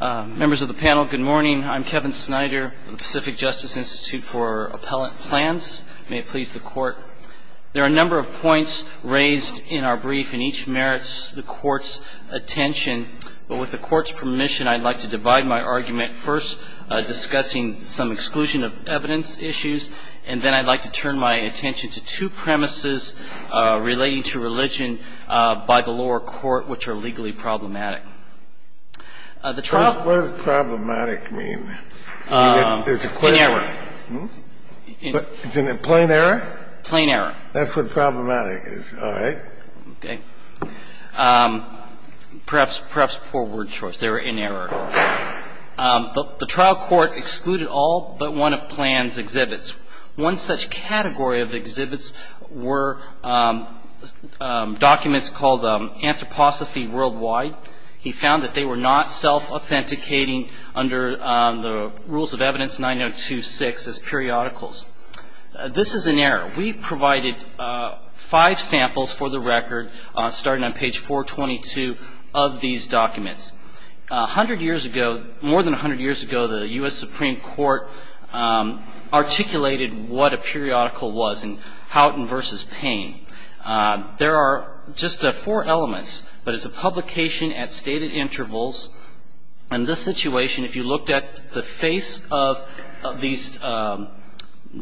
Members of the panel, good morning. I'm Kevin Snyder of the Pacific Justice Institute for Appellate Plans. May it please the court. There are a number of points raised in our brief, and each merits the court's attention. But with the court's permission, I'd like to divide my argument first, discussing some exclusion of evidence issues. And then I'd like to turn my attention to two premises relating to religion by the lower court, which are legally problematic. The trial What does problematic mean? There's a question. Inerror. Inerror. Plain error? Plain error. That's what problematic is, all right. Okay. Perhaps poor word choice. They were inerror. The trial court excluded all but one of Plans' exhibits. One such category of exhibits were documents called Anthroposophy Worldwide. He found that they were not self-authenticating under the rules of evidence 9026 as periodicals. This is an error. We provided five samples for the record, starting on page 422 of these documents. A hundred years ago, more than a hundred years ago, the U.S. Supreme Court articulated what a periodical was in Houghton v. Payne. There are just four elements, but it's a publication at stated intervals. In this situation, if you looked at the face of these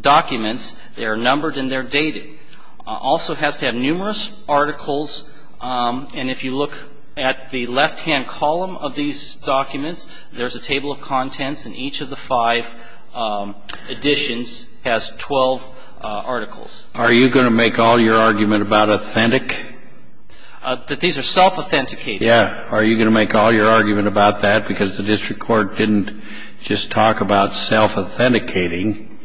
documents, they are numbered and they're dated. Also has to have numerous articles. And if you look at the left-hand column of these documents, there's a table of contents and each of the five editions has 12 articles. Are you going to make all your argument about authentic? That these are self-authenticating. Yeah. Are you going to make all your argument about that? Because the district court didn't just talk about self-authenticating.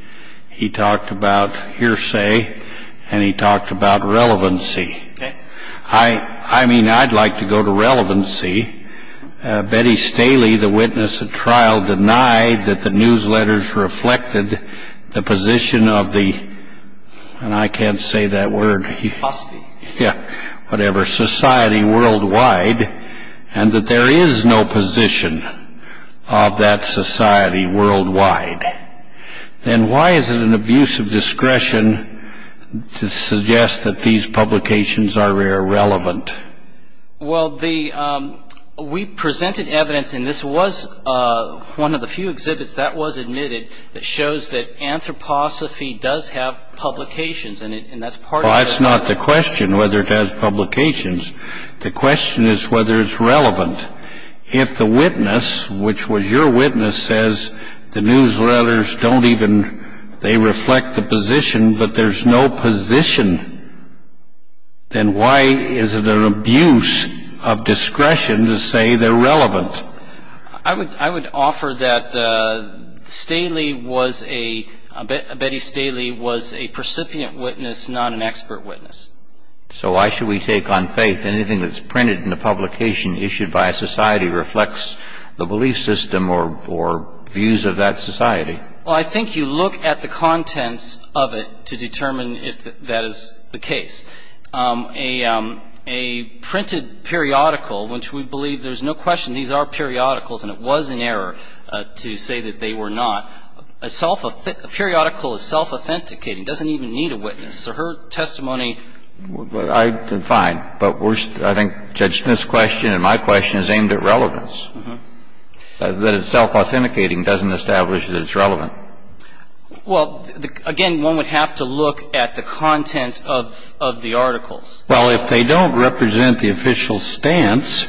He talked about hearsay and he talked about relevancy. I mean, I'd like to go to relevancy. Betty Staley, the witness at trial, denied that the newsletters reflected the position of the, and I can't say that word, whatever, society worldwide. And that there is no position of that society worldwide. And why is it an abuse of discretion to suggest that these publications are irrelevant? Well, the, we presented evidence, and this was one of the few exhibits that was admitted that shows that anthroposophy does have publications, and that's part of the. Well, that's not the question, whether it has publications. The question is whether it's relevant. If the witness, which was your witness, says the newsletters don't even, they reflect the position, but there's no position, then why is it an abuse of discretion to say they're relevant? I would, I would offer that Staley was a, Betty Staley was a precipient witness, not an expert witness. So why should we take on faith anything that's printed in the publication issued by a society reflects the belief system or, or views of that society? Well, I think you look at the contents of it to determine if that is the case. A, a printed periodical, which we believe there's no question these are periodicals, and it was an error to say that they were not, a self, a periodical is self-authenticating, doesn't even need a witness. So her testimony. Well, I, fine, but we're, I think Judge Smith's question and my question is aimed at relevance. That it's self-authenticating doesn't establish that it's relevant. Well, again, one would have to look at the content of, of the articles. Well, if they don't represent the official stance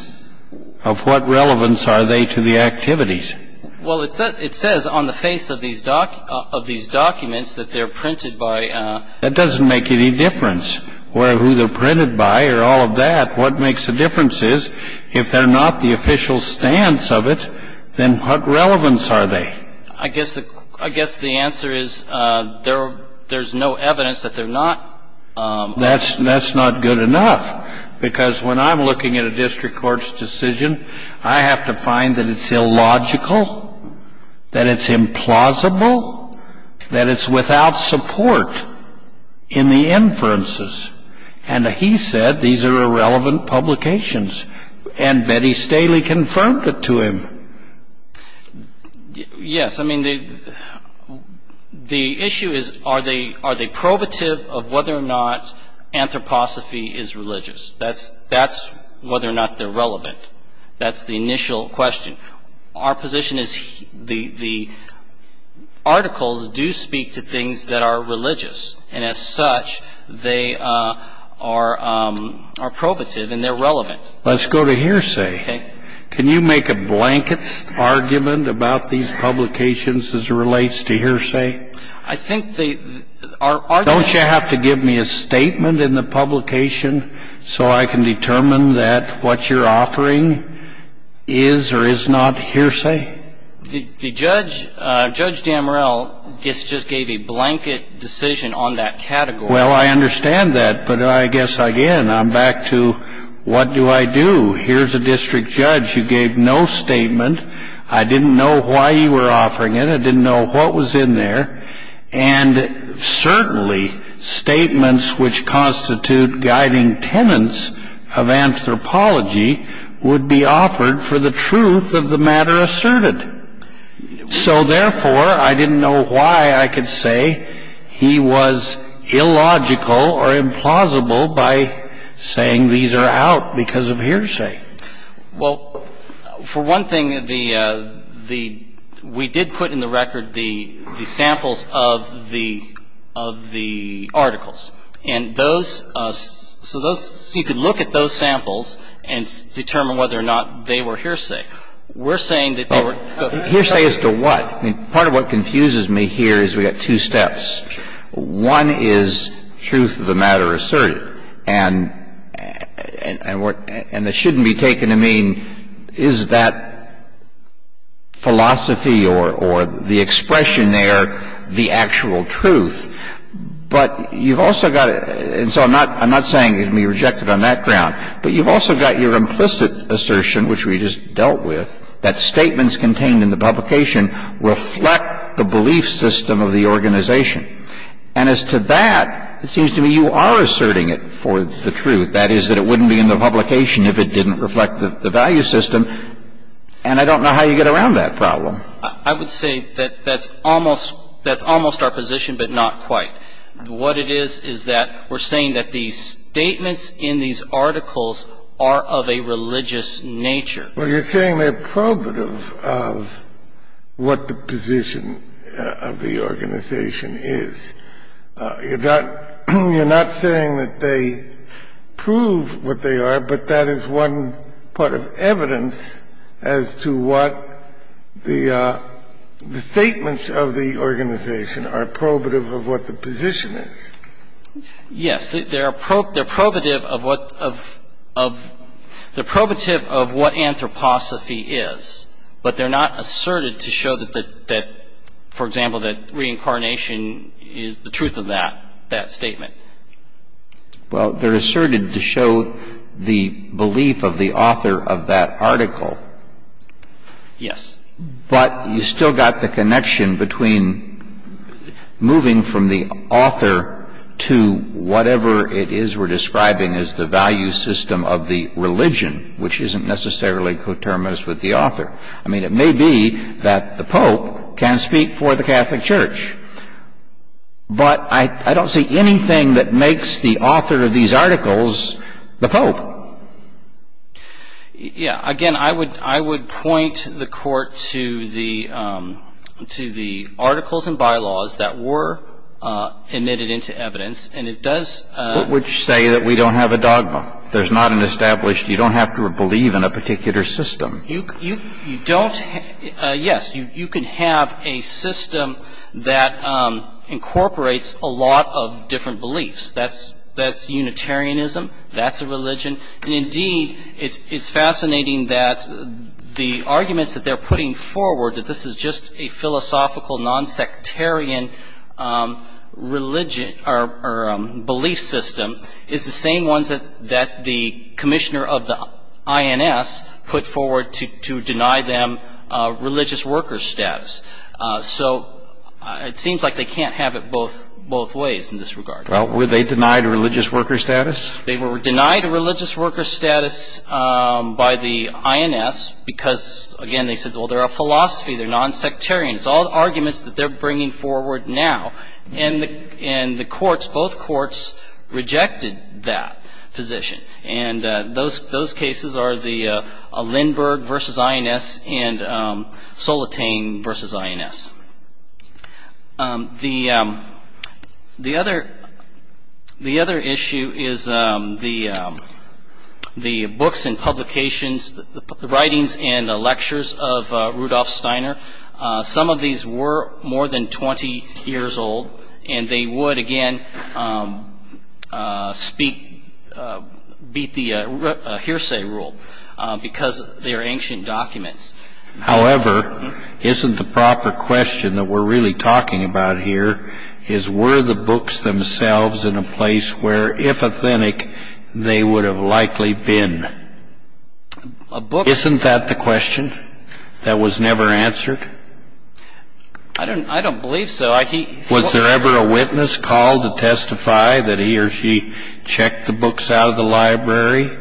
of what relevance are they to the activities? Well, it says, it says on the face of these doc, of these documents that they're printed by. That doesn't make any difference where, who they're printed by or all of that. What makes a difference is if they're not the official stance of it, then what relevance are they? I guess the, I guess the answer is there, there's no evidence that they're not. That's, that's not good enough. Because when I'm looking at a district court's decision, I have to find that it's illogical, that it's implausible, that it's without support in the inferences. And he said these are irrelevant publications. And Betty Staley confirmed it to him. Yes, I mean, the, the issue is, are they, are they probative of whether or not anthroposophy is religious? That's, that's whether or not they're relevant. That's the initial question. Our position is the, the articles do speak to things that are religious. And as such, they are, are probative and they're relevant. Let's go to hearsay. Okay. Can you make a blanket argument about these publications as it relates to hearsay? I think the, our, our. Don't you have to give me a statement in the publication so I can determine that what you're offering is or is not hearsay? The, the judge, Judge Damorell, just gave a blanket decision on that category. Well, I understand that. But I guess, again, I'm back to what do I do? Here's a district judge who gave no statement. I didn't know why you were offering it. I didn't know what was in there. And certainly, statements which constitute guiding tenets of anthropology would be offered for the truth of the matter asserted. So therefore, I didn't know why I could say he was illogical or implausible by saying these are out because of hearsay. Well, for one thing, the, the, we did put in the record the, the samples of the, of the articles. And those, so those, so you could look at those samples and determine whether or not they were hearsay. We're saying that they were. Hearsay as to what? I mean, part of what confuses me here is we've got two steps. One is truth of the matter asserted. And, and, and what, and it shouldn't be taken to mean, is that philosophy or, or the expression there the actual truth? But you've also got, and so I'm not, I'm not saying it can be rejected on that ground. But you've also got your implicit assertion, which we just dealt with, that statements contained in the publication reflect the belief system of the organization. And as to that, it seems to me you are asserting it for the truth. That is, that it wouldn't be in the publication if it didn't reflect the, the value system. And I don't know how you get around that problem. I would say that that's almost, that's almost our position, but not quite. What it is, is that we're saying that these statements in these articles are of a religious nature. Well, you're saying they're probative of what the position of the organization is. You're not, you're not saying that they prove what they are. But that is one part of evidence as to what the, the statements of the organization are probative of what the position is. Yes, they're probative of what, of, of, they're probative of what anthroposophy is. But they're not asserted to show that, that, for example, that reincarnation is the truth of that, that statement. Well, they're asserted to show the belief of the author of that article. Yes. But you still got the connection between moving from the author to whatever it is we're describing as the value system of the religion, which isn't necessarily coterminous with the author. I mean, it may be that the Pope can speak for the Catholic Church. But I, I don't see anything that makes the author of these articles the Pope. Yeah, again, I would, I would point the Court to the, to the articles and bylaws that were admitted into evidence. And it does. What would you say that we don't have a dogma? There's not an established, you don't have to believe in a particular system. You, you, you don't, yes, you, you can have a system that incorporates a lot of different beliefs. That's, that's Unitarianism. That's a religion. And indeed, it's, it's fascinating that the arguments that they're putting forward, that this is just a philosophical non-sectarian religion, or, or belief system, is the same ones that, that the commissioner of the INS put forward to, to deny them religious worker status. So it seems like they can't have it both, both ways in this regard. Well, were they denied religious worker status? They were denied religious worker status by the INS because, again, they said, well, they're a philosophy, they're non-sectarian. It's all arguments that they're bringing forward now. And the, and the courts, both courts rejected that position. And those, those cases are the Lindberg versus INS and Solitain versus INS. The, the other, the other issue is the, the books and publications, the writings and the lectures of Rudolf Steiner. Some of these were more than 20 years old, and they would, again, speak, beat the hearsay rule, because they're ancient documents. However, isn't the proper question that we're really talking about here is, were the books themselves in a place where, if authentic, they would have likely been? Isn't that the question that was never answered? I don't, I don't believe so. Was there ever a witness called to testify that he or she checked the books out of the library,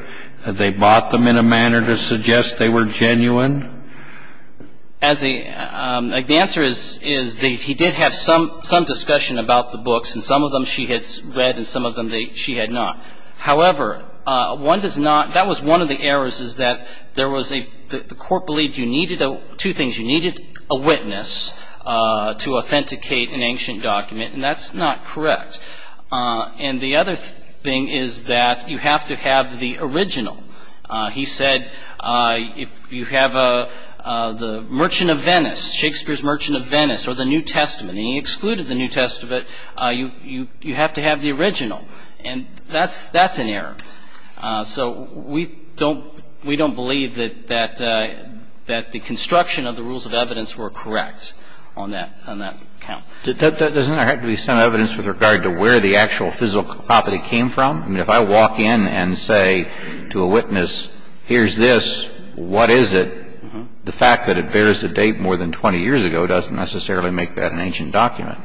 that they bought them in a manner to suggest they were genuine? As a, the answer is, is that he did have some, some discussion about the books, and some of them she had read and some of them she had not. However, one does not, that was one of the errors, is that there was a, the, the court believed you needed a, two things. You needed a witness to authenticate an ancient document, and that's not correct. And the other thing is that you have to have the original. He said, if you have a, the Merchant of Venice, Shakespeare's Merchant of Venice, or the New Testament, and he excluded the New Testament, you, you, you have to have the original. And that's, that's an error. So we don't, we don't believe that, that, that the construction of the rules of evidence were correct on that, on that count. Doesn't there have to be some evidence with regard to where the actual physical property came from? I mean, if I walk in and say to a witness, here's this, what is it, the fact that it bears the date more than 20 years ago doesn't necessarily make that an ancient document.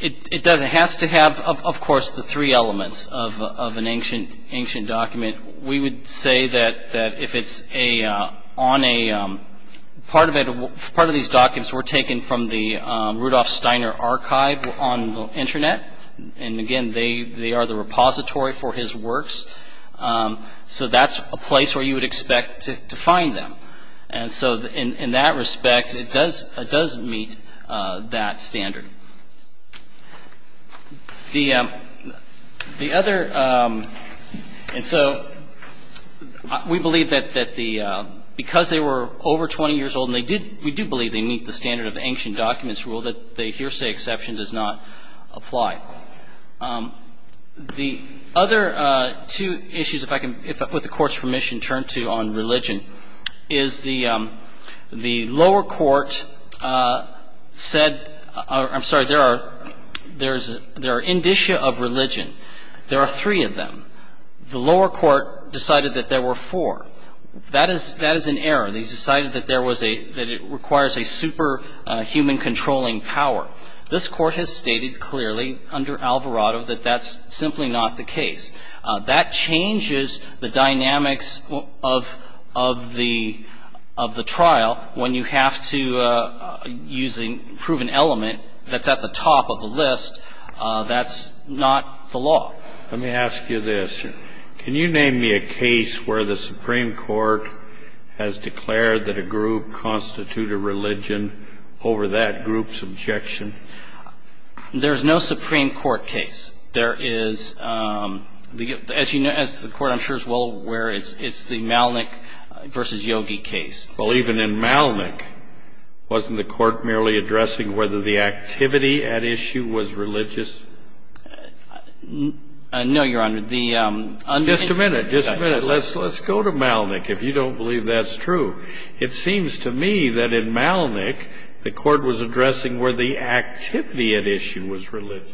It, it does. It has to have, of course, the three elements of, of an ancient, ancient document. We would say that, that if it's a, on a, part of it, part of these documents were taken from the Rudolf Steiner archive on the internet. And again, they, they are the repository for his works. So that's a place where you would expect to, to find them. And so in, in that respect, it does, it does meet that standard. The, the other, and so we believe that, that the, because they were over 20 years old and they did, we do believe they meet the standard of ancient documents rule, that the hearsay exception does not apply. The other two issues, if I can, if, with the Court's permission, turn to on religion, is the, the lower court said, I'm sorry, there are, there is, there are indicia of religion. There are three of them. The lower court decided that there were four. That is, that is an error. They decided that there was a, that it requires a super human controlling power. This Court has stated clearly under Alvarado that that's simply not the case. That changes the dynamics of, of the, of the trial when you have to use a proven element that's at the top of the list. That's not the law. Let me ask you this. Can you name me a case where the Supreme Court has declared that a group constitute a religion over that group's objection? There's no Supreme Court case. There is the, as you know, as the Court I'm sure is well aware, it's, it's the Malnick v. Yogi case. Well, even in Malnick, wasn't the Court merely addressing whether the activity at issue was religious? No, Your Honor. Just a minute. Just a minute. Let's, let's go to Malnick, if you don't believe that's true. It seems to me that in Malnick, the Court was addressing where the activity at issue was religious.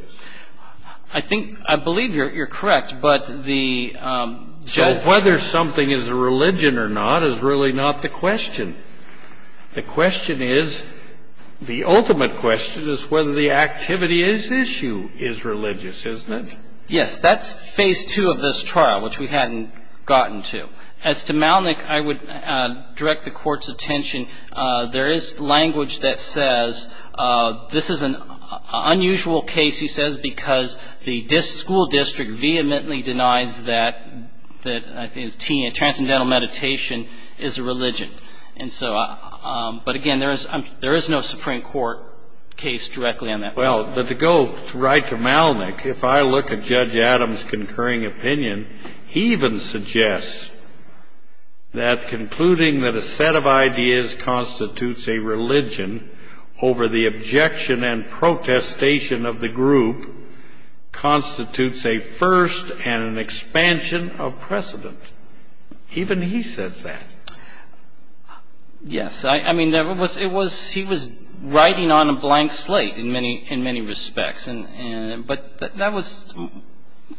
I think, I believe you're, you're correct. But the judge... So whether something is a religion or not is really not the question. The question is, the ultimate question is whether the activity at issue is religious, isn't it? Yes. That's phase two of this trial, which we hadn't gotten to. As to Malnick, I would direct the Court's attention. There is language that says this is an unusual case, he says, because the school district vehemently denies that, that I think it's transcendental meditation is a religion. And so, but again, there is, there is no Supreme Court case directly on that. Well, but to go right to Malnick, if I look at Judge Adams' concurring opinion, he even suggests that concluding that a set of ideas constitutes a religion over the objection and protestation of the group constitutes a first and an expansion of precedent. Even he says that. Yes, I mean, there was, it was, he was writing on a blank slate in many, in many respects. But that was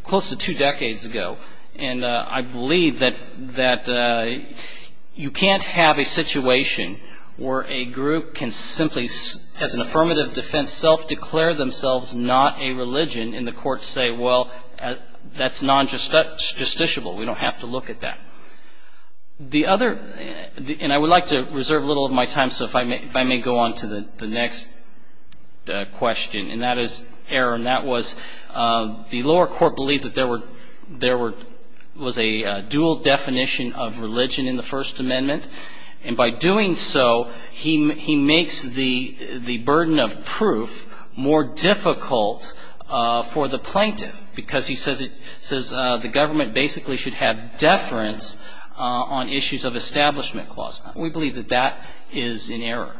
close to two decades ago. And I believe that you can't have a situation where a group can simply, as an affirmative defense, self-declare themselves not a religion and the courts say, well, that's non-justiciable. We don't have to look at that. The other, and I would like to reserve a little of my time, so if I may go on to the next question, and that is, Aaron, that was the lower court believed that there were, there were, was a dual definition of religion in the First Amendment. And by doing so, he makes the burden of proof more difficult for the plaintiff because he says it, says the government basically should have deference on issues of establishment clause. We believe that that is in error.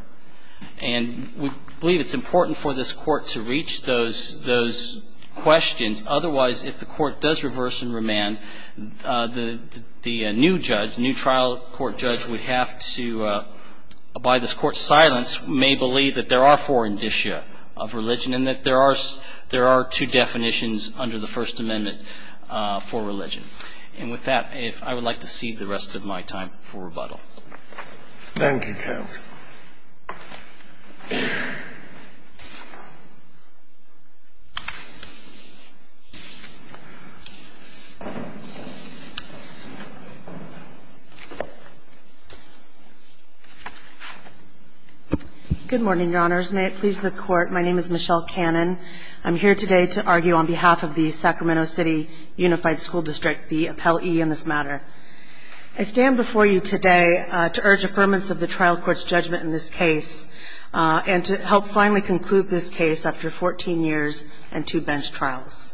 And we believe it's important for this Court to reach those, those questions. Otherwise, if the Court does reverse and remand, the new judge, new trial court judge would have to, by this Court's silence, may believe that there are four indicia of religion and that there are, there are two definitions under the First Amendment for religion. And with that, I would like to cede the rest of my time for rebuttal. Thank you, Counsel. Good morning, Your Honors. May it please the Court. My name is Michelle Cannon. I'm here today to argue on behalf of the Sacramento City Unified School District, the appellee in this matter. I stand before you today to urge affirmance of the trial court's judgment in this case and to help finally conclude this case after 14 years and two bench trials.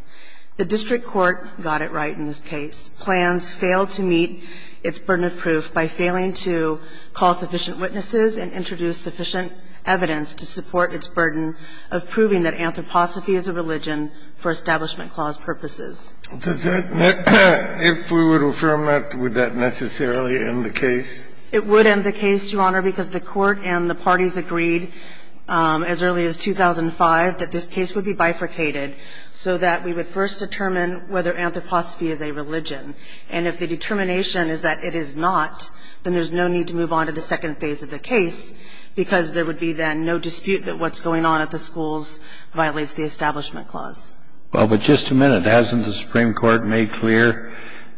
The district court got it right in this case. Plans failed to meet its burden of proof by failing to call sufficient witnesses and introduce sufficient evidence to support its burden of proving that anthroposophy is a religion for establishment clause purposes. If we would affirm that, would that necessarily end the case? It would end the case, Your Honor, because the Court and the parties agreed as early as 2005 that this case would be bifurcated so that we would first determine whether anthroposophy is a religion. And if the determination is that it is not, then there's no need to move on to the second phase of the case because there would be then no dispute that what's going on at the schools violates the establishment clause. Well, but just a minute. Hasn't the Supreme Court made clear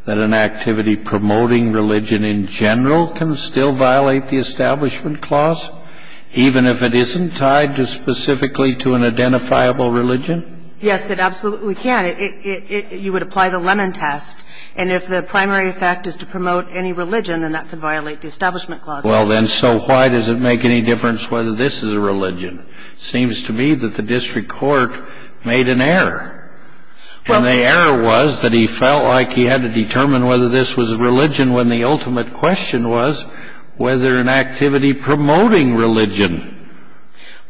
that an activity promoting religion in general can still violate the establishment clause, even if it isn't tied specifically to an identifiable religion? Yes, it absolutely can. You would apply the Lemon Test. And if the primary effect is to promote any religion, then that could violate the establishment clause. Well, then, so why does it make any difference whether this is a religion? It seems to me that the district court made an error. And the error was that he felt like he had to determine whether this was a religion when the ultimate question was whether an activity promoting religion.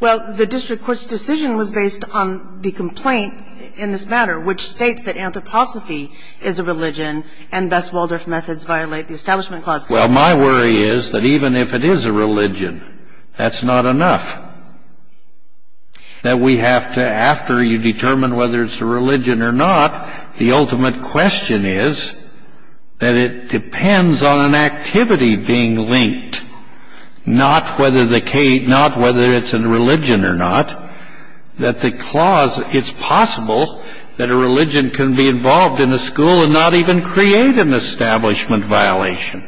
Well, the district court's decision was based on the complaint in this matter, which states that anthroposophy is a religion and thus Waldorf methods violate the establishment clause. Well, my worry is that even if it is a religion, that's not enough. That we have to, after you determine whether it's a religion or not, the ultimate question is that it depends on an activity being linked, not whether it's a religion or not. That the clause, it's possible that a religion can be involved in a school and not even create an establishment violation.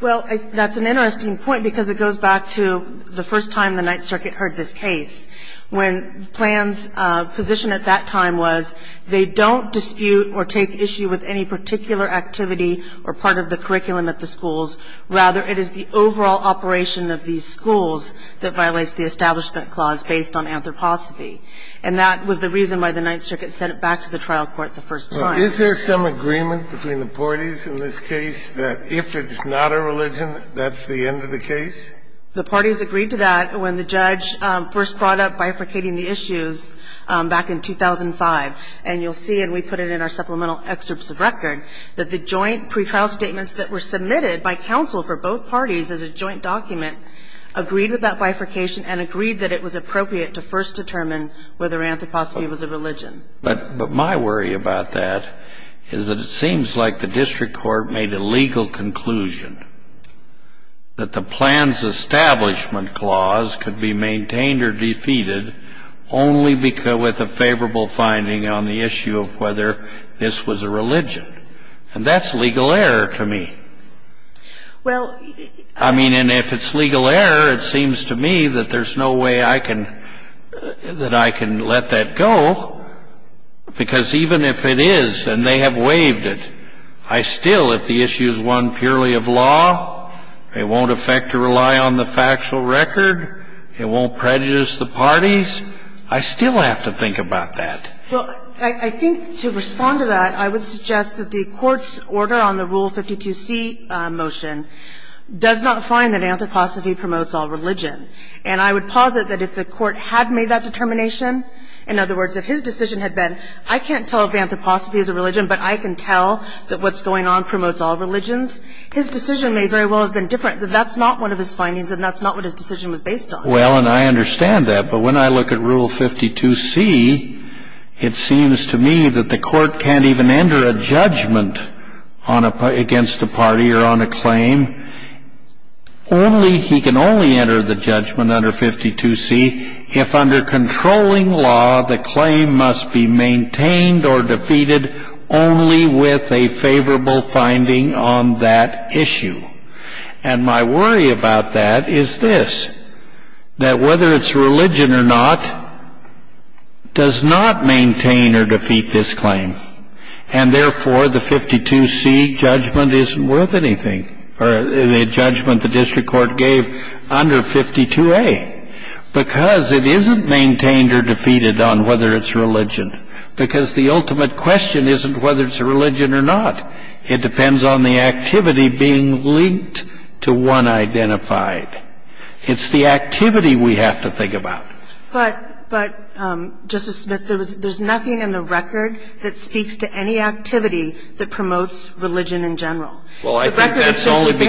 Well, that's an interesting point, because it goes back to the first time the Ninth Circuit heard this case, when Plan's position at that time was they don't dispute or take issue with any particular activity or part of the curriculum at the schools. Rather, it is the overall operation of these schools that violates the establishment clause based on anthroposophy. And that was the reason why the Ninth Circuit sent it back to the trial court the first time. Is there some agreement between the parties in this case that if it's not a religion, that's the end of the case? The parties agreed to that when the judge first brought up bifurcating the issues back in 2005. And you'll see, and we put it in our supplemental excerpts of record, that the joint pre-file statements that were submitted by counsel for both parties as a joint document agreed with that bifurcation and agreed that it was appropriate to first determine whether anthroposophy was a religion. But my worry about that is that it seems like the district court made a legal conclusion that the Plan's establishment clause could be maintained or defeated only with a favorable finding on the issue of whether this was a religion. And that's legal error to me. I mean, and if it's legal error, it seems to me that there's no way I can let that go, because even if it is, and they have waived it, I still, if the issue is one purely of law, it won't affect or rely on the factual record, it won't prejudice the parties, I still have to think about that. Well, I think to respond to that, I would suggest that the Court's order on the Rule 52c motion does not find that anthroposophy promotes all religion. And I would posit that if the Court had made that determination, in other words, if his decision had been, I can't tell if anthroposophy is a religion, but I can tell that what's going on promotes all religions, his decision may very well have been different, that that's not one of his findings and that's not what his decision was based on. Well, and I understand that. But when I look at Rule 52c, it seems to me that the Court can't even enter a judgment against a party or on a claim. Only, he can only enter the judgment under 52c if under controlling law, the claim must be maintained or defeated only with a favorable finding on that issue. And my worry about that is this, that whether it's religion or not, does not maintain or defeat this claim. And therefore, the 52c judgment isn't worth anything, or the judgment the district court gave under 52a, because it isn't maintained or defeated on whether it's religion, because the ultimate question isn't whether it's a religion or not. It depends on the activity being linked to one identified. It's the activity we have to think about. But, Justice Smith, there's nothing in the record that speaks to any activity that promotes religion in general. The record is 52a. Well, I think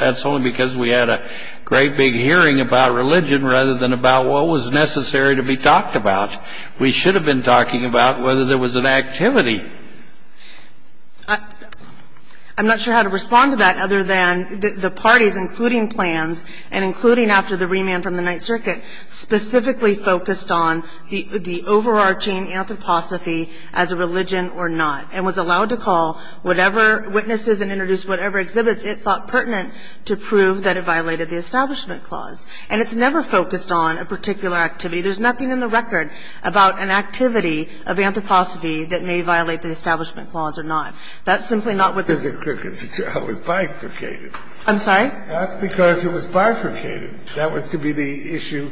that's only because we had a great big hearing about religion rather than about what was necessary to be talked about. We should have been talking about whether there was an activity. I'm not sure how to respond to that other than the parties, including plans and including after the remand from the Ninth Circuit, specifically focused on the overarching anthroposophy as a religion or not, and was allowed to call whatever witnesses and introduce whatever exhibits it thought pertinent to prove that it violated the Establishment Clause. And it's never focused on a particular activity. There's nothing in the record about an activity of anthroposophy that may violate the Establishment Clause or not. That's simply not what the Court said. That's because it was bifurcated. I'm sorry? That's because it was bifurcated. That was to be the issue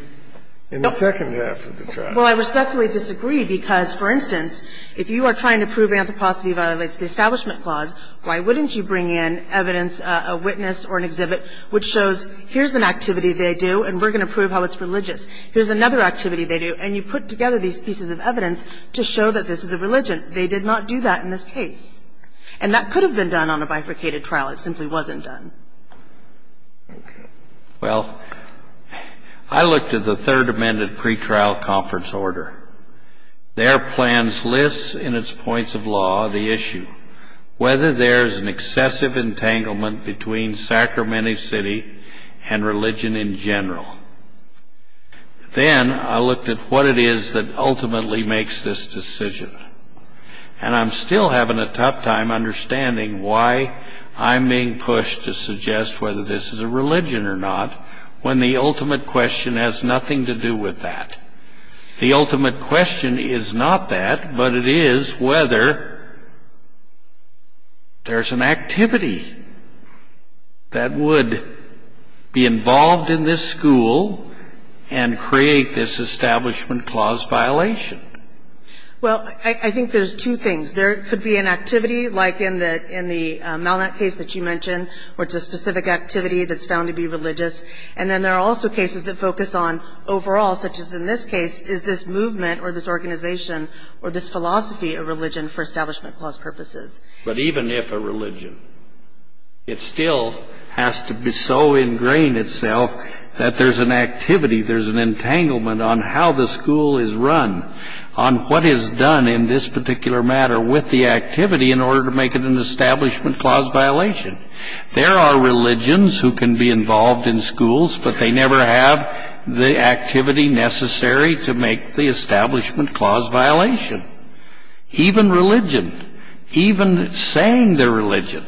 in the second half of the trial. Well, I respectfully disagree, because, for instance, if you are trying to prove anthroposophy violates the Establishment Clause, why wouldn't you bring in evidence, a witness or an exhibit, which shows here's an activity they do and we're going to prove how it's religious. Here's another activity they do, and you put together these pieces of evidence to show that this is a religion. They did not do that in this case. And that could have been done on a bifurcated trial. It simply wasn't done. Okay. Well, I looked at the third amended pretrial conference order. Their plans list in its points of law the issue, whether there's an excessive entanglement between Sacramento City and religion in general. Then I looked at what it is that ultimately makes this decision. And I'm still having a tough time understanding why I'm being pushed to suggest whether this is a religion or not, when the ultimate question has nothing to do with that. The ultimate question is not that, but it is whether there's an activity that would be involved in this school and create this Establishment Clause violation. Well, I think there's two things. There could be an activity, like in the Malnet case that you mentioned, where it's a specific activity that's found to be religious. And then there are also cases that focus on overall, such as in this case, is this movement or this organization or this philosophy a religion for Establishment Clause purposes? But even if a religion, it still has to be so ingrained itself that there's an activity, there's an entanglement on how the school is run, on what is done in this particular matter with the activity in order to make it an Establishment Clause violation. There are religions who can be involved in schools, but they never have the activity necessary to make the Establishment Clause violation. Even religion, even saying they're religion.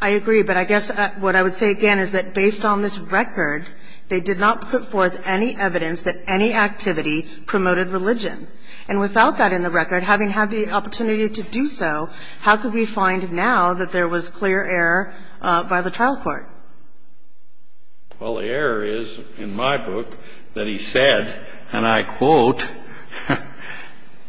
I agree, but I guess what I would say again is that based on this record, they did not put forth any evidence that any activity promoted religion. And without that in the record, having had the opportunity to do so, how could we find now that there was clear error by the trial court? Well, the error is, in my book, that he said, and I quote,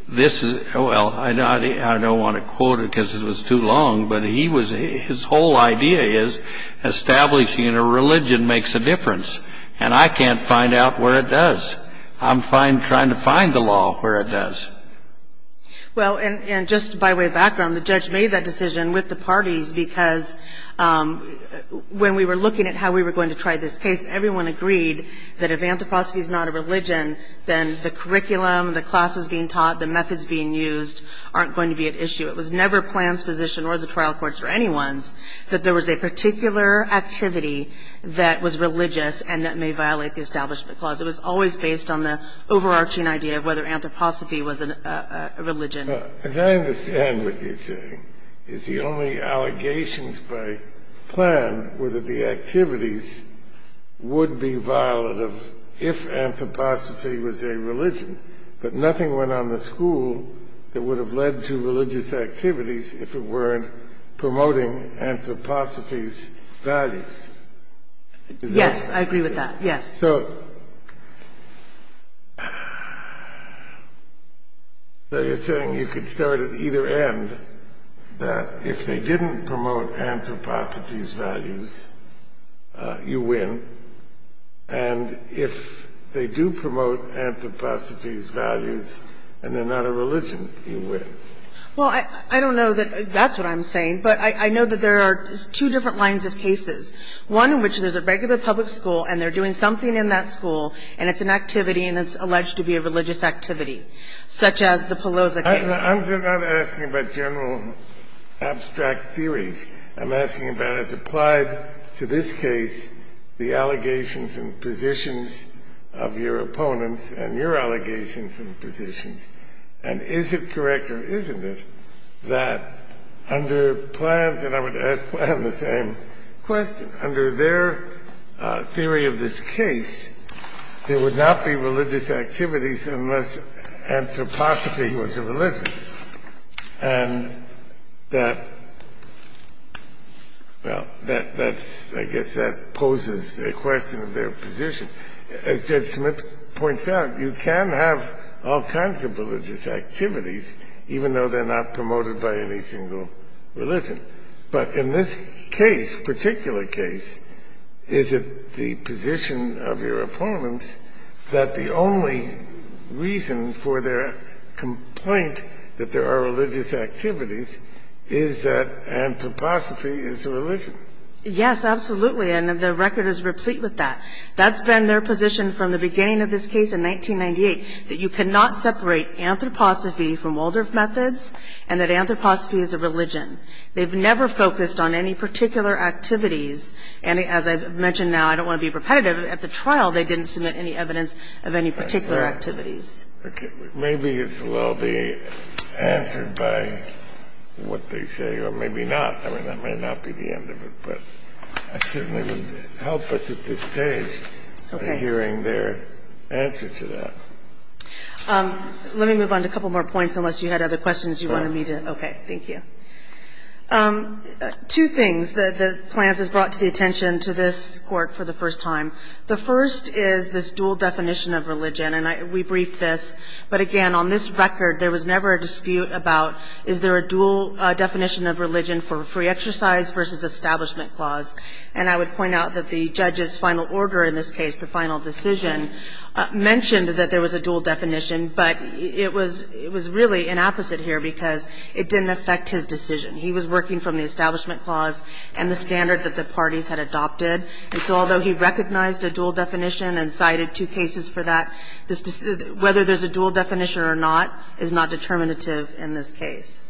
this is – well, I don't want to quote it because it was too long, but he was – his whole idea is establishing a religion makes a difference. And I can't find out where it does. I'm trying to find the law where it does. Well, and just by way of background, the judge made that decision with the parties because when we were looking at how we were going to try this case, everyone agreed that if anthroposophy is not a religion, then the curriculum, the classes being taught, the methods being used aren't going to be at issue. It was never Plan's position or the trial court's or anyone's that there was a particular activity that was religious and that may violate the Establishment Clause. It was always based on the overarching idea of whether anthroposophy was a religion. As I understand what you're saying, it's the only allegations by Plan were that the activities would be violative if anthroposophy was a religion, but nothing went on the school that would have led to religious activities if it weren't promoting anthroposophy's values. Yes, I agree with that. Yes. So you're saying you could start at either end, that if they didn't promote anthroposophy's values, you win, and if they do promote anthroposophy's values and they're not a religion, you win. Well, I don't know that that's what I'm saying, but I know that there are two different lines of cases, one in which there's a regular public school and they're doing something in that school and it's an activity and it's alleged to be a religious activity, such as the Pelosa case. I'm not asking about general abstract theories. I'm asking about, as applied to this case, the allegations and positions of your opponents and your allegations and positions, and is it correct or isn't it that under Plan's and I would ask Plan the same question, under their theory of this case, there would not be religious activities unless anthroposophy was a religion. And that, well, that's, I guess that poses a question of their position. As Judge Smith points out, you can have all kinds of religious activities, even though they're not promoted by any single religion. But in this case, particular case, is it the position of your opponents that the only reason for their complaint that there are religious activities is that anthroposophy is a religion? Yes, absolutely. And the record is replete with that. That's been their position from the beginning of this case in 1998, that you cannot separate anthroposophy from Waldorf methods and that anthroposophy is a religion. They've never focused on any particular activities. And as I've mentioned now, I don't want to be repetitive, but at the trial they didn't submit any evidence of any particular activities. Maybe it's a little bit answered by what they say, or maybe not. I mean, that may not be the end of it, but it certainly would help us at this stage in hearing their answer to that. Let me move on to a couple more points, unless you had other questions you wanted me to ask. Okay, thank you. Two things that Plans has brought to the attention to this Court for the first time. The first is this dual definition of religion, and we briefed this. But again, on this record, there was never a dispute about is there a dual definition of religion for free exercise versus establishment clause. And I would point out that the judge's final order in this case, the final decision, mentioned that there was a dual definition. But it was really an opposite here because it didn't affect his decision. He was working from the establishment clause and the standard that the parties had adopted. And so although he recognized a dual definition and cited two cases for that, whether there's a dual definition or not is not determinative in this case.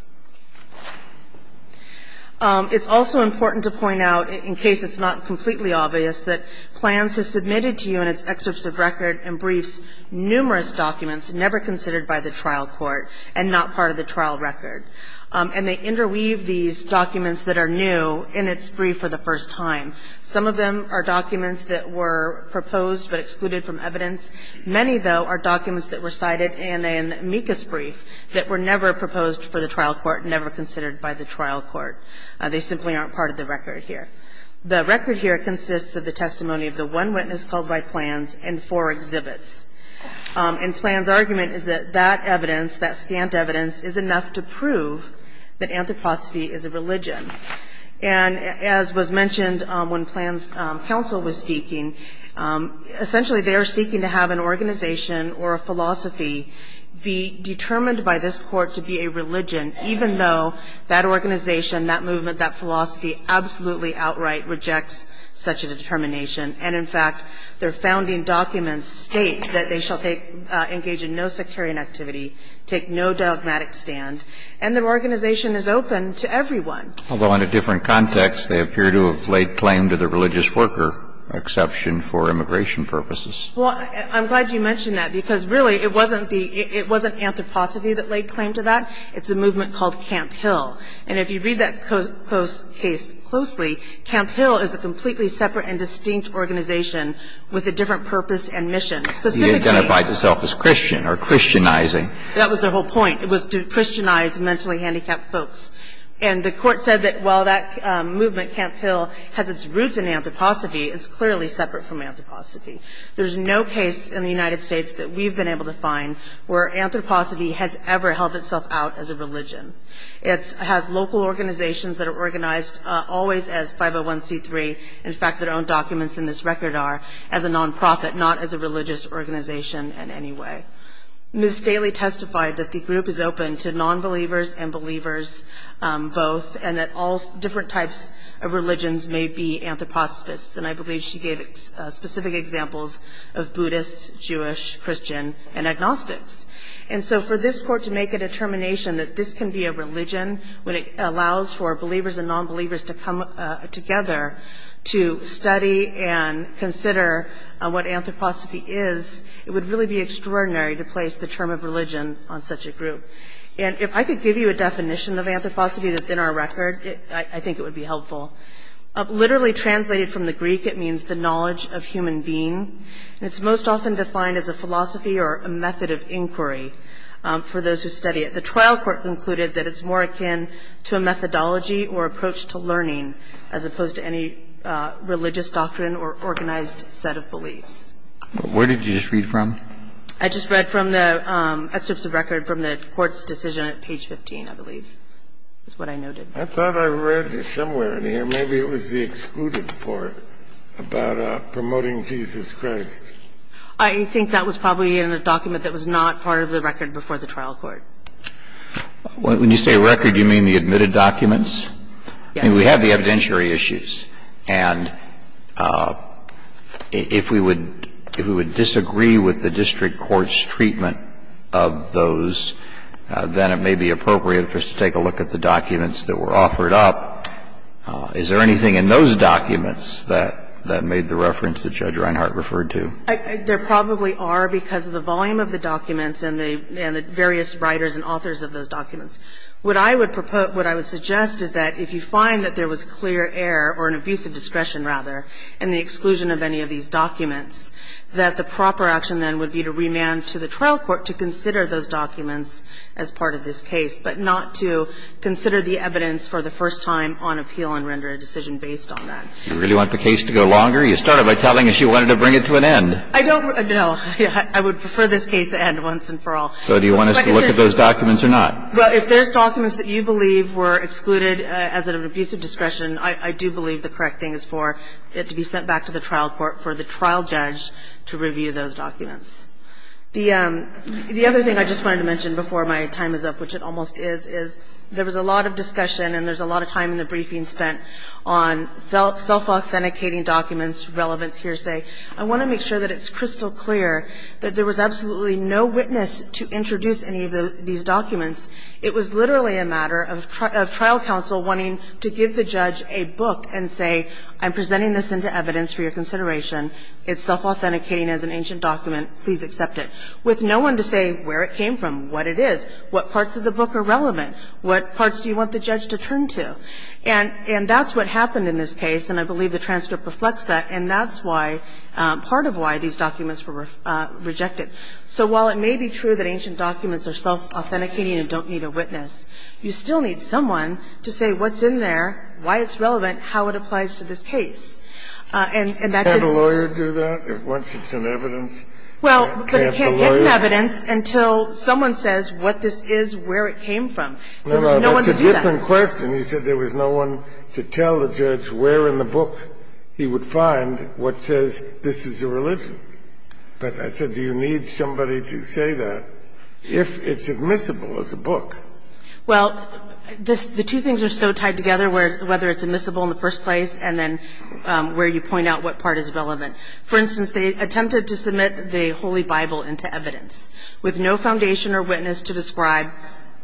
It's also important to point out, in case it's not completely obvious, that Plans has submitted to you in its excerpts of record and briefs numerous documents, never considered by the trial court and not part of the trial record. And they interweave these documents that are new in its brief for the first time. Some of them are documents that were proposed but excluded from evidence. Many, though, are documents that were cited in a amicus brief that were never proposed for the trial court, never considered by the trial court. They simply aren't part of the record here. The record here consists of the testimony of the one witness called by Plans and four exhibits. And Plans' argument is that that evidence, that scant evidence, is enough to prove that anthroposophy is a religion. And as was mentioned when Plans' counsel was speaking, essentially they are seeking to have an organization or a philosophy be determined by this Court to be a religion, even though that organization, that movement, that philosophy absolutely outright rejects such a determination. And, in fact, their founding documents state that they shall engage in no sectarian activity, take no dogmatic stand, and their organization is open to everyone. Although in a different context, they appear to have laid claim to the religious worker exception for immigration purposes. Well, I'm glad you mentioned that because, really, it wasn't anthroposophy that laid claim to that. It's a movement called Camp Hill. And if you read that case closely, Camp Hill is a completely separate and distinct organization with a different purpose and mission. Specifically he identified himself as Christian or Christianizing. That was their whole point. It was to Christianize mentally handicapped folks. And the Court said that while that movement, Camp Hill, has its roots in anthroposophy, it's clearly separate from anthroposophy. There's no case in the United States that we've been able to find where anthroposophy has ever held itself out as a religion. It has local organizations that are organized always as 501c3, in fact, their own documents in this record are, as a nonprofit, not as a religious organization in any way. Ms. Staley testified that the group is open to nonbelievers and believers both, and that all different types of religions may be anthroposophists. And I believe she gave specific examples of Buddhists, Jewish, Christian, and agnostics. And so for this Court to make a determination that this can be a religion, when it allows for believers and nonbelievers to come together to study and consider what anthroposophy is, it would really be extraordinary to place the term of religion on such a group. And if I could give you a definition of anthroposophy that's in our record, I think it would be helpful. Literally translated from the Greek, it means the knowledge of human being. And it's most often defined as a philosophy or a method of inquiry for those who study it. The trial court concluded that it's more akin to a methodology or approach to learning as opposed to any religious doctrine or organized set of beliefs. Where did you just read from? I just read from the excerpts of record from the Court's decision at page 15, I believe, is what I noted. I thought I read this somewhere in here. Maybe it was the excluded part about promoting Jesus Christ. I think that was probably in a document that was not part of the record before the trial court. When you say record, you mean the admitted documents? Yes. I mean, we have the evidentiary issues. And if we would disagree with the district court's treatment of those, then it may be appropriate for us to take a look at the documents that were offered up. Is there anything in those documents that made the reference that Judge Reinhart referred to? There probably are because of the volume of the documents and the various writers and authors of those documents. What I would propose, what I would suggest is that if you find that there was clear error or an abuse of discretion, rather, in the exclusion of any of these documents, that the proper action then would be to remand to the trial court to consider those documents as part of this case, but not to consider the evidence for the first time on appeal and render a decision based on that. Do you really want the case to go longer? You started by telling us you wanted to bring it to an end. I don't. No. I would prefer this case to end once and for all. So do you want us to look at those documents or not? Well, if there's documents that you believe were excluded as an abuse of discretion, I do believe the correct thing is for it to be sent back to the trial court for the trial judge to review those documents. The other thing I just wanted to mention before my time is up, which it almost is, is there was a lot of discussion and there's a lot of time in the briefing spent on self-authenticating documents, relevance, hearsay. I want to make sure that it's crystal clear that there was absolutely no witness to introduce any of these documents. It was literally a matter of trial counsel wanting to give the judge a book and say, I'm presenting this into evidence for your consideration. It's self-authenticating as an ancient document. Please accept it. With no one to say where it came from, what it is, what parts of the book are relevant, what parts do you want the judge to turn to. And that's what happened in this case, and I believe the transcript reflects that, and that's why – part of why these documents were rejected. So while it may be true that ancient documents are self-authenticating and don't need a witness, you still need someone to say what's in there, why it's relevant, how it applies to this case. And that didn't – Can't a lawyer do that? Once it's in evidence, can't the lawyer – It's in evidence until someone says what this is, where it came from. There was no one to do that. That's a different question. You said there was no one to tell the judge where in the book he would find what says this is a religion. But I said, do you need somebody to say that if it's admissible as a book? Well, the two things are so tied together, whether it's admissible in the first place and then where you point out what part is relevant. For instance, they attempted to submit the Holy Bible into evidence with no foundation or witness to describe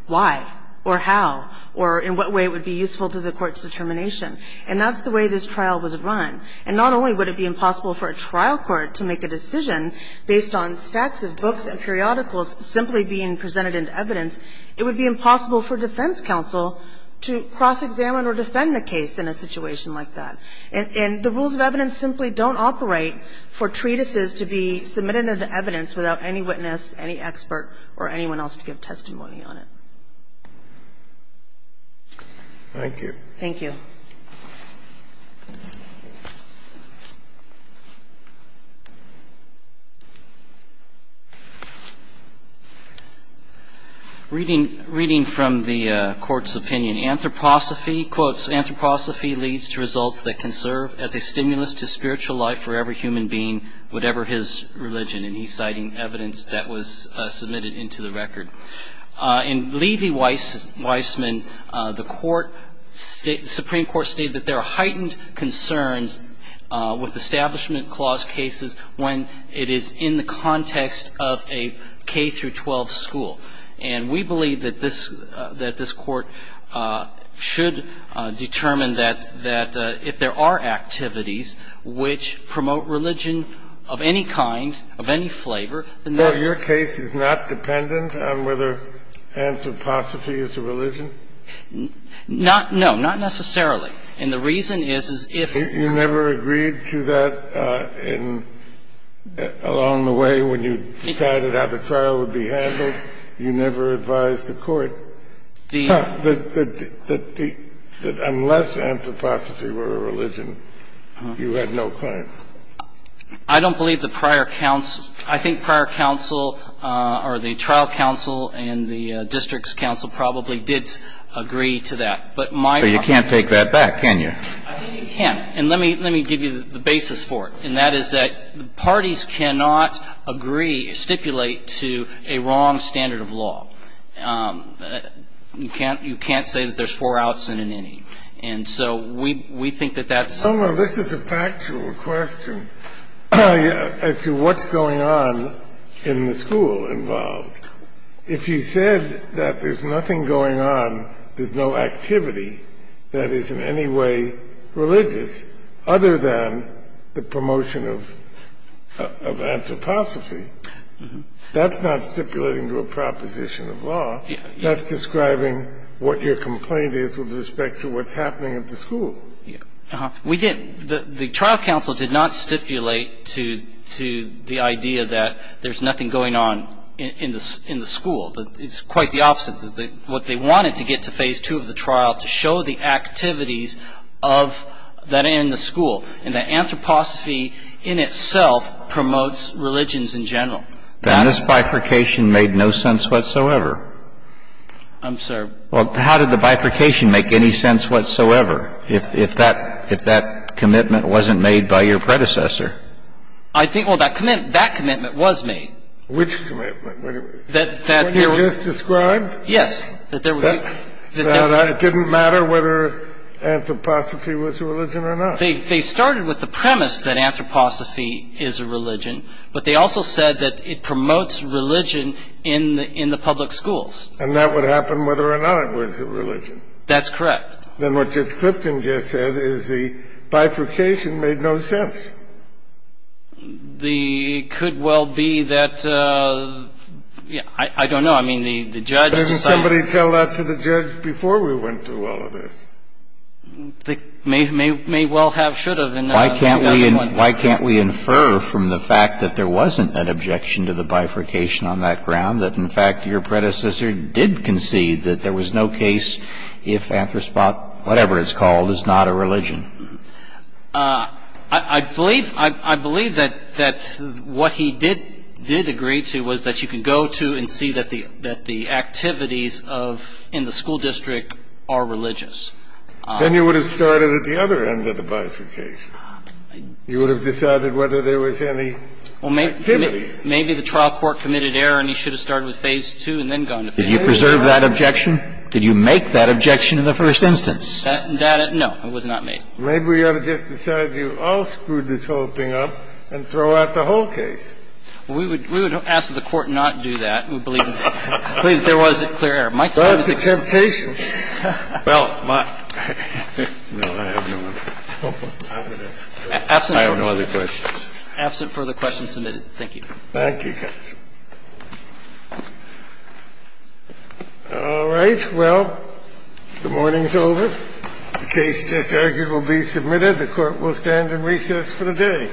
why or how or in what way it would be useful to the court's determination. And that's the way this trial was run. And not only would it be impossible for a trial court to make a decision based on stacks of books and periodicals simply being presented in evidence, it would be impossible for defense counsel to cross-examine or defend the case in a situation like that. And the rules of evidence simply don't operate for treatises to be submitted into evidence without any witness, any expert, or anyone else to give testimony on it. Thank you. Thank you. Reading from the Court's opinion. Anthroposophy, quotes, Anthroposophy leads to results that can serve as a stimulus to spiritual life for every human being, whatever his religion. And he's citing evidence that was submitted into the record. In Levy-Weissman, the Supreme Court stated that there are heightened concerns with Establishment Clause cases when it is in the context of a K-12 school. And we believe that this Court should determine that if there are activities which promote religion of any kind, of any flavor, then that's the case. So your case is not dependent on whether Anthroposophy is a religion? Not no. Not necessarily. And the reason is, is if you never agreed to that along the way when you decided how the trial would be handled, you never advised the Court that unless Anthroposophy were a religion, you had no claim? I don't believe the prior counsel – I think prior counsel, or the trial counsel and the district's counsel probably did agree to that. But my argument is you can't take that back, can you? I think you can. And let me give you the basis for it. And that is that parties cannot agree, stipulate to a wrong standard of law. You can't say that there's four outs and an inning. And so we think that that's – No, no. This is a factual question as to what's going on in the school involved. If you said that there's nothing going on, there's no activity that is in any way religious other than the promotion of Anthroposophy, that's not stipulating to a proposition of law. That's describing what your complaint is with respect to what's happening at the school. We didn't – the trial counsel did not stipulate to the idea that there's nothing going on in the school. It's quite the opposite. I think that's what they wanted to get to phase two of the trial, to show the activities of that inn and the school, and that Anthroposophy in itself promotes religions in general. Then this bifurcation made no sense whatsoever. I'm sorry? Well, how did the bifurcation make any sense whatsoever if that commitment wasn't made by your predecessor? I think – well, that commitment was made. Which commitment? The one you just described? Yes. That it didn't matter whether Anthroposophy was a religion or not. They started with the premise that Anthroposophy is a religion, but they also said that it promotes religion in the public schools. And that would happen whether or not it was a religion. That's correct. Then what Judge Clifton just said is the bifurcation made no sense. It could well be that – I don't know. I mean, the judge decided – Didn't somebody tell that to the judge before we went through all of this? They may well have should have. Why can't we infer from the fact that there wasn't an objection to the bifurcation on that ground that, in fact, your predecessor did concede that there was no case if Anthroposophy, whatever it's called, is not a religion? I believe that what he did agree to was that you can go to and see that the activities of – in the school district are religious. Then you would have started at the other end of the bifurcation. You would have decided whether there was any activity. Well, maybe the trial court committed error and he should have started with Phase II and then gone to Phase III. Did you preserve that objection? Did you make that objection in the first instance? That – no, it was not made. Maybe we ought to just decide you all screwed this whole thing up and throw out the whole case. We would ask that the Court not do that. We believe that there was clear error. That's a temptation. Well, my – no, I have no other – I have no other questions. Thank you, counsel. All right. Well, the morning's over. The case just argued will be submitted. The Court will stand in recess for the day. All rise.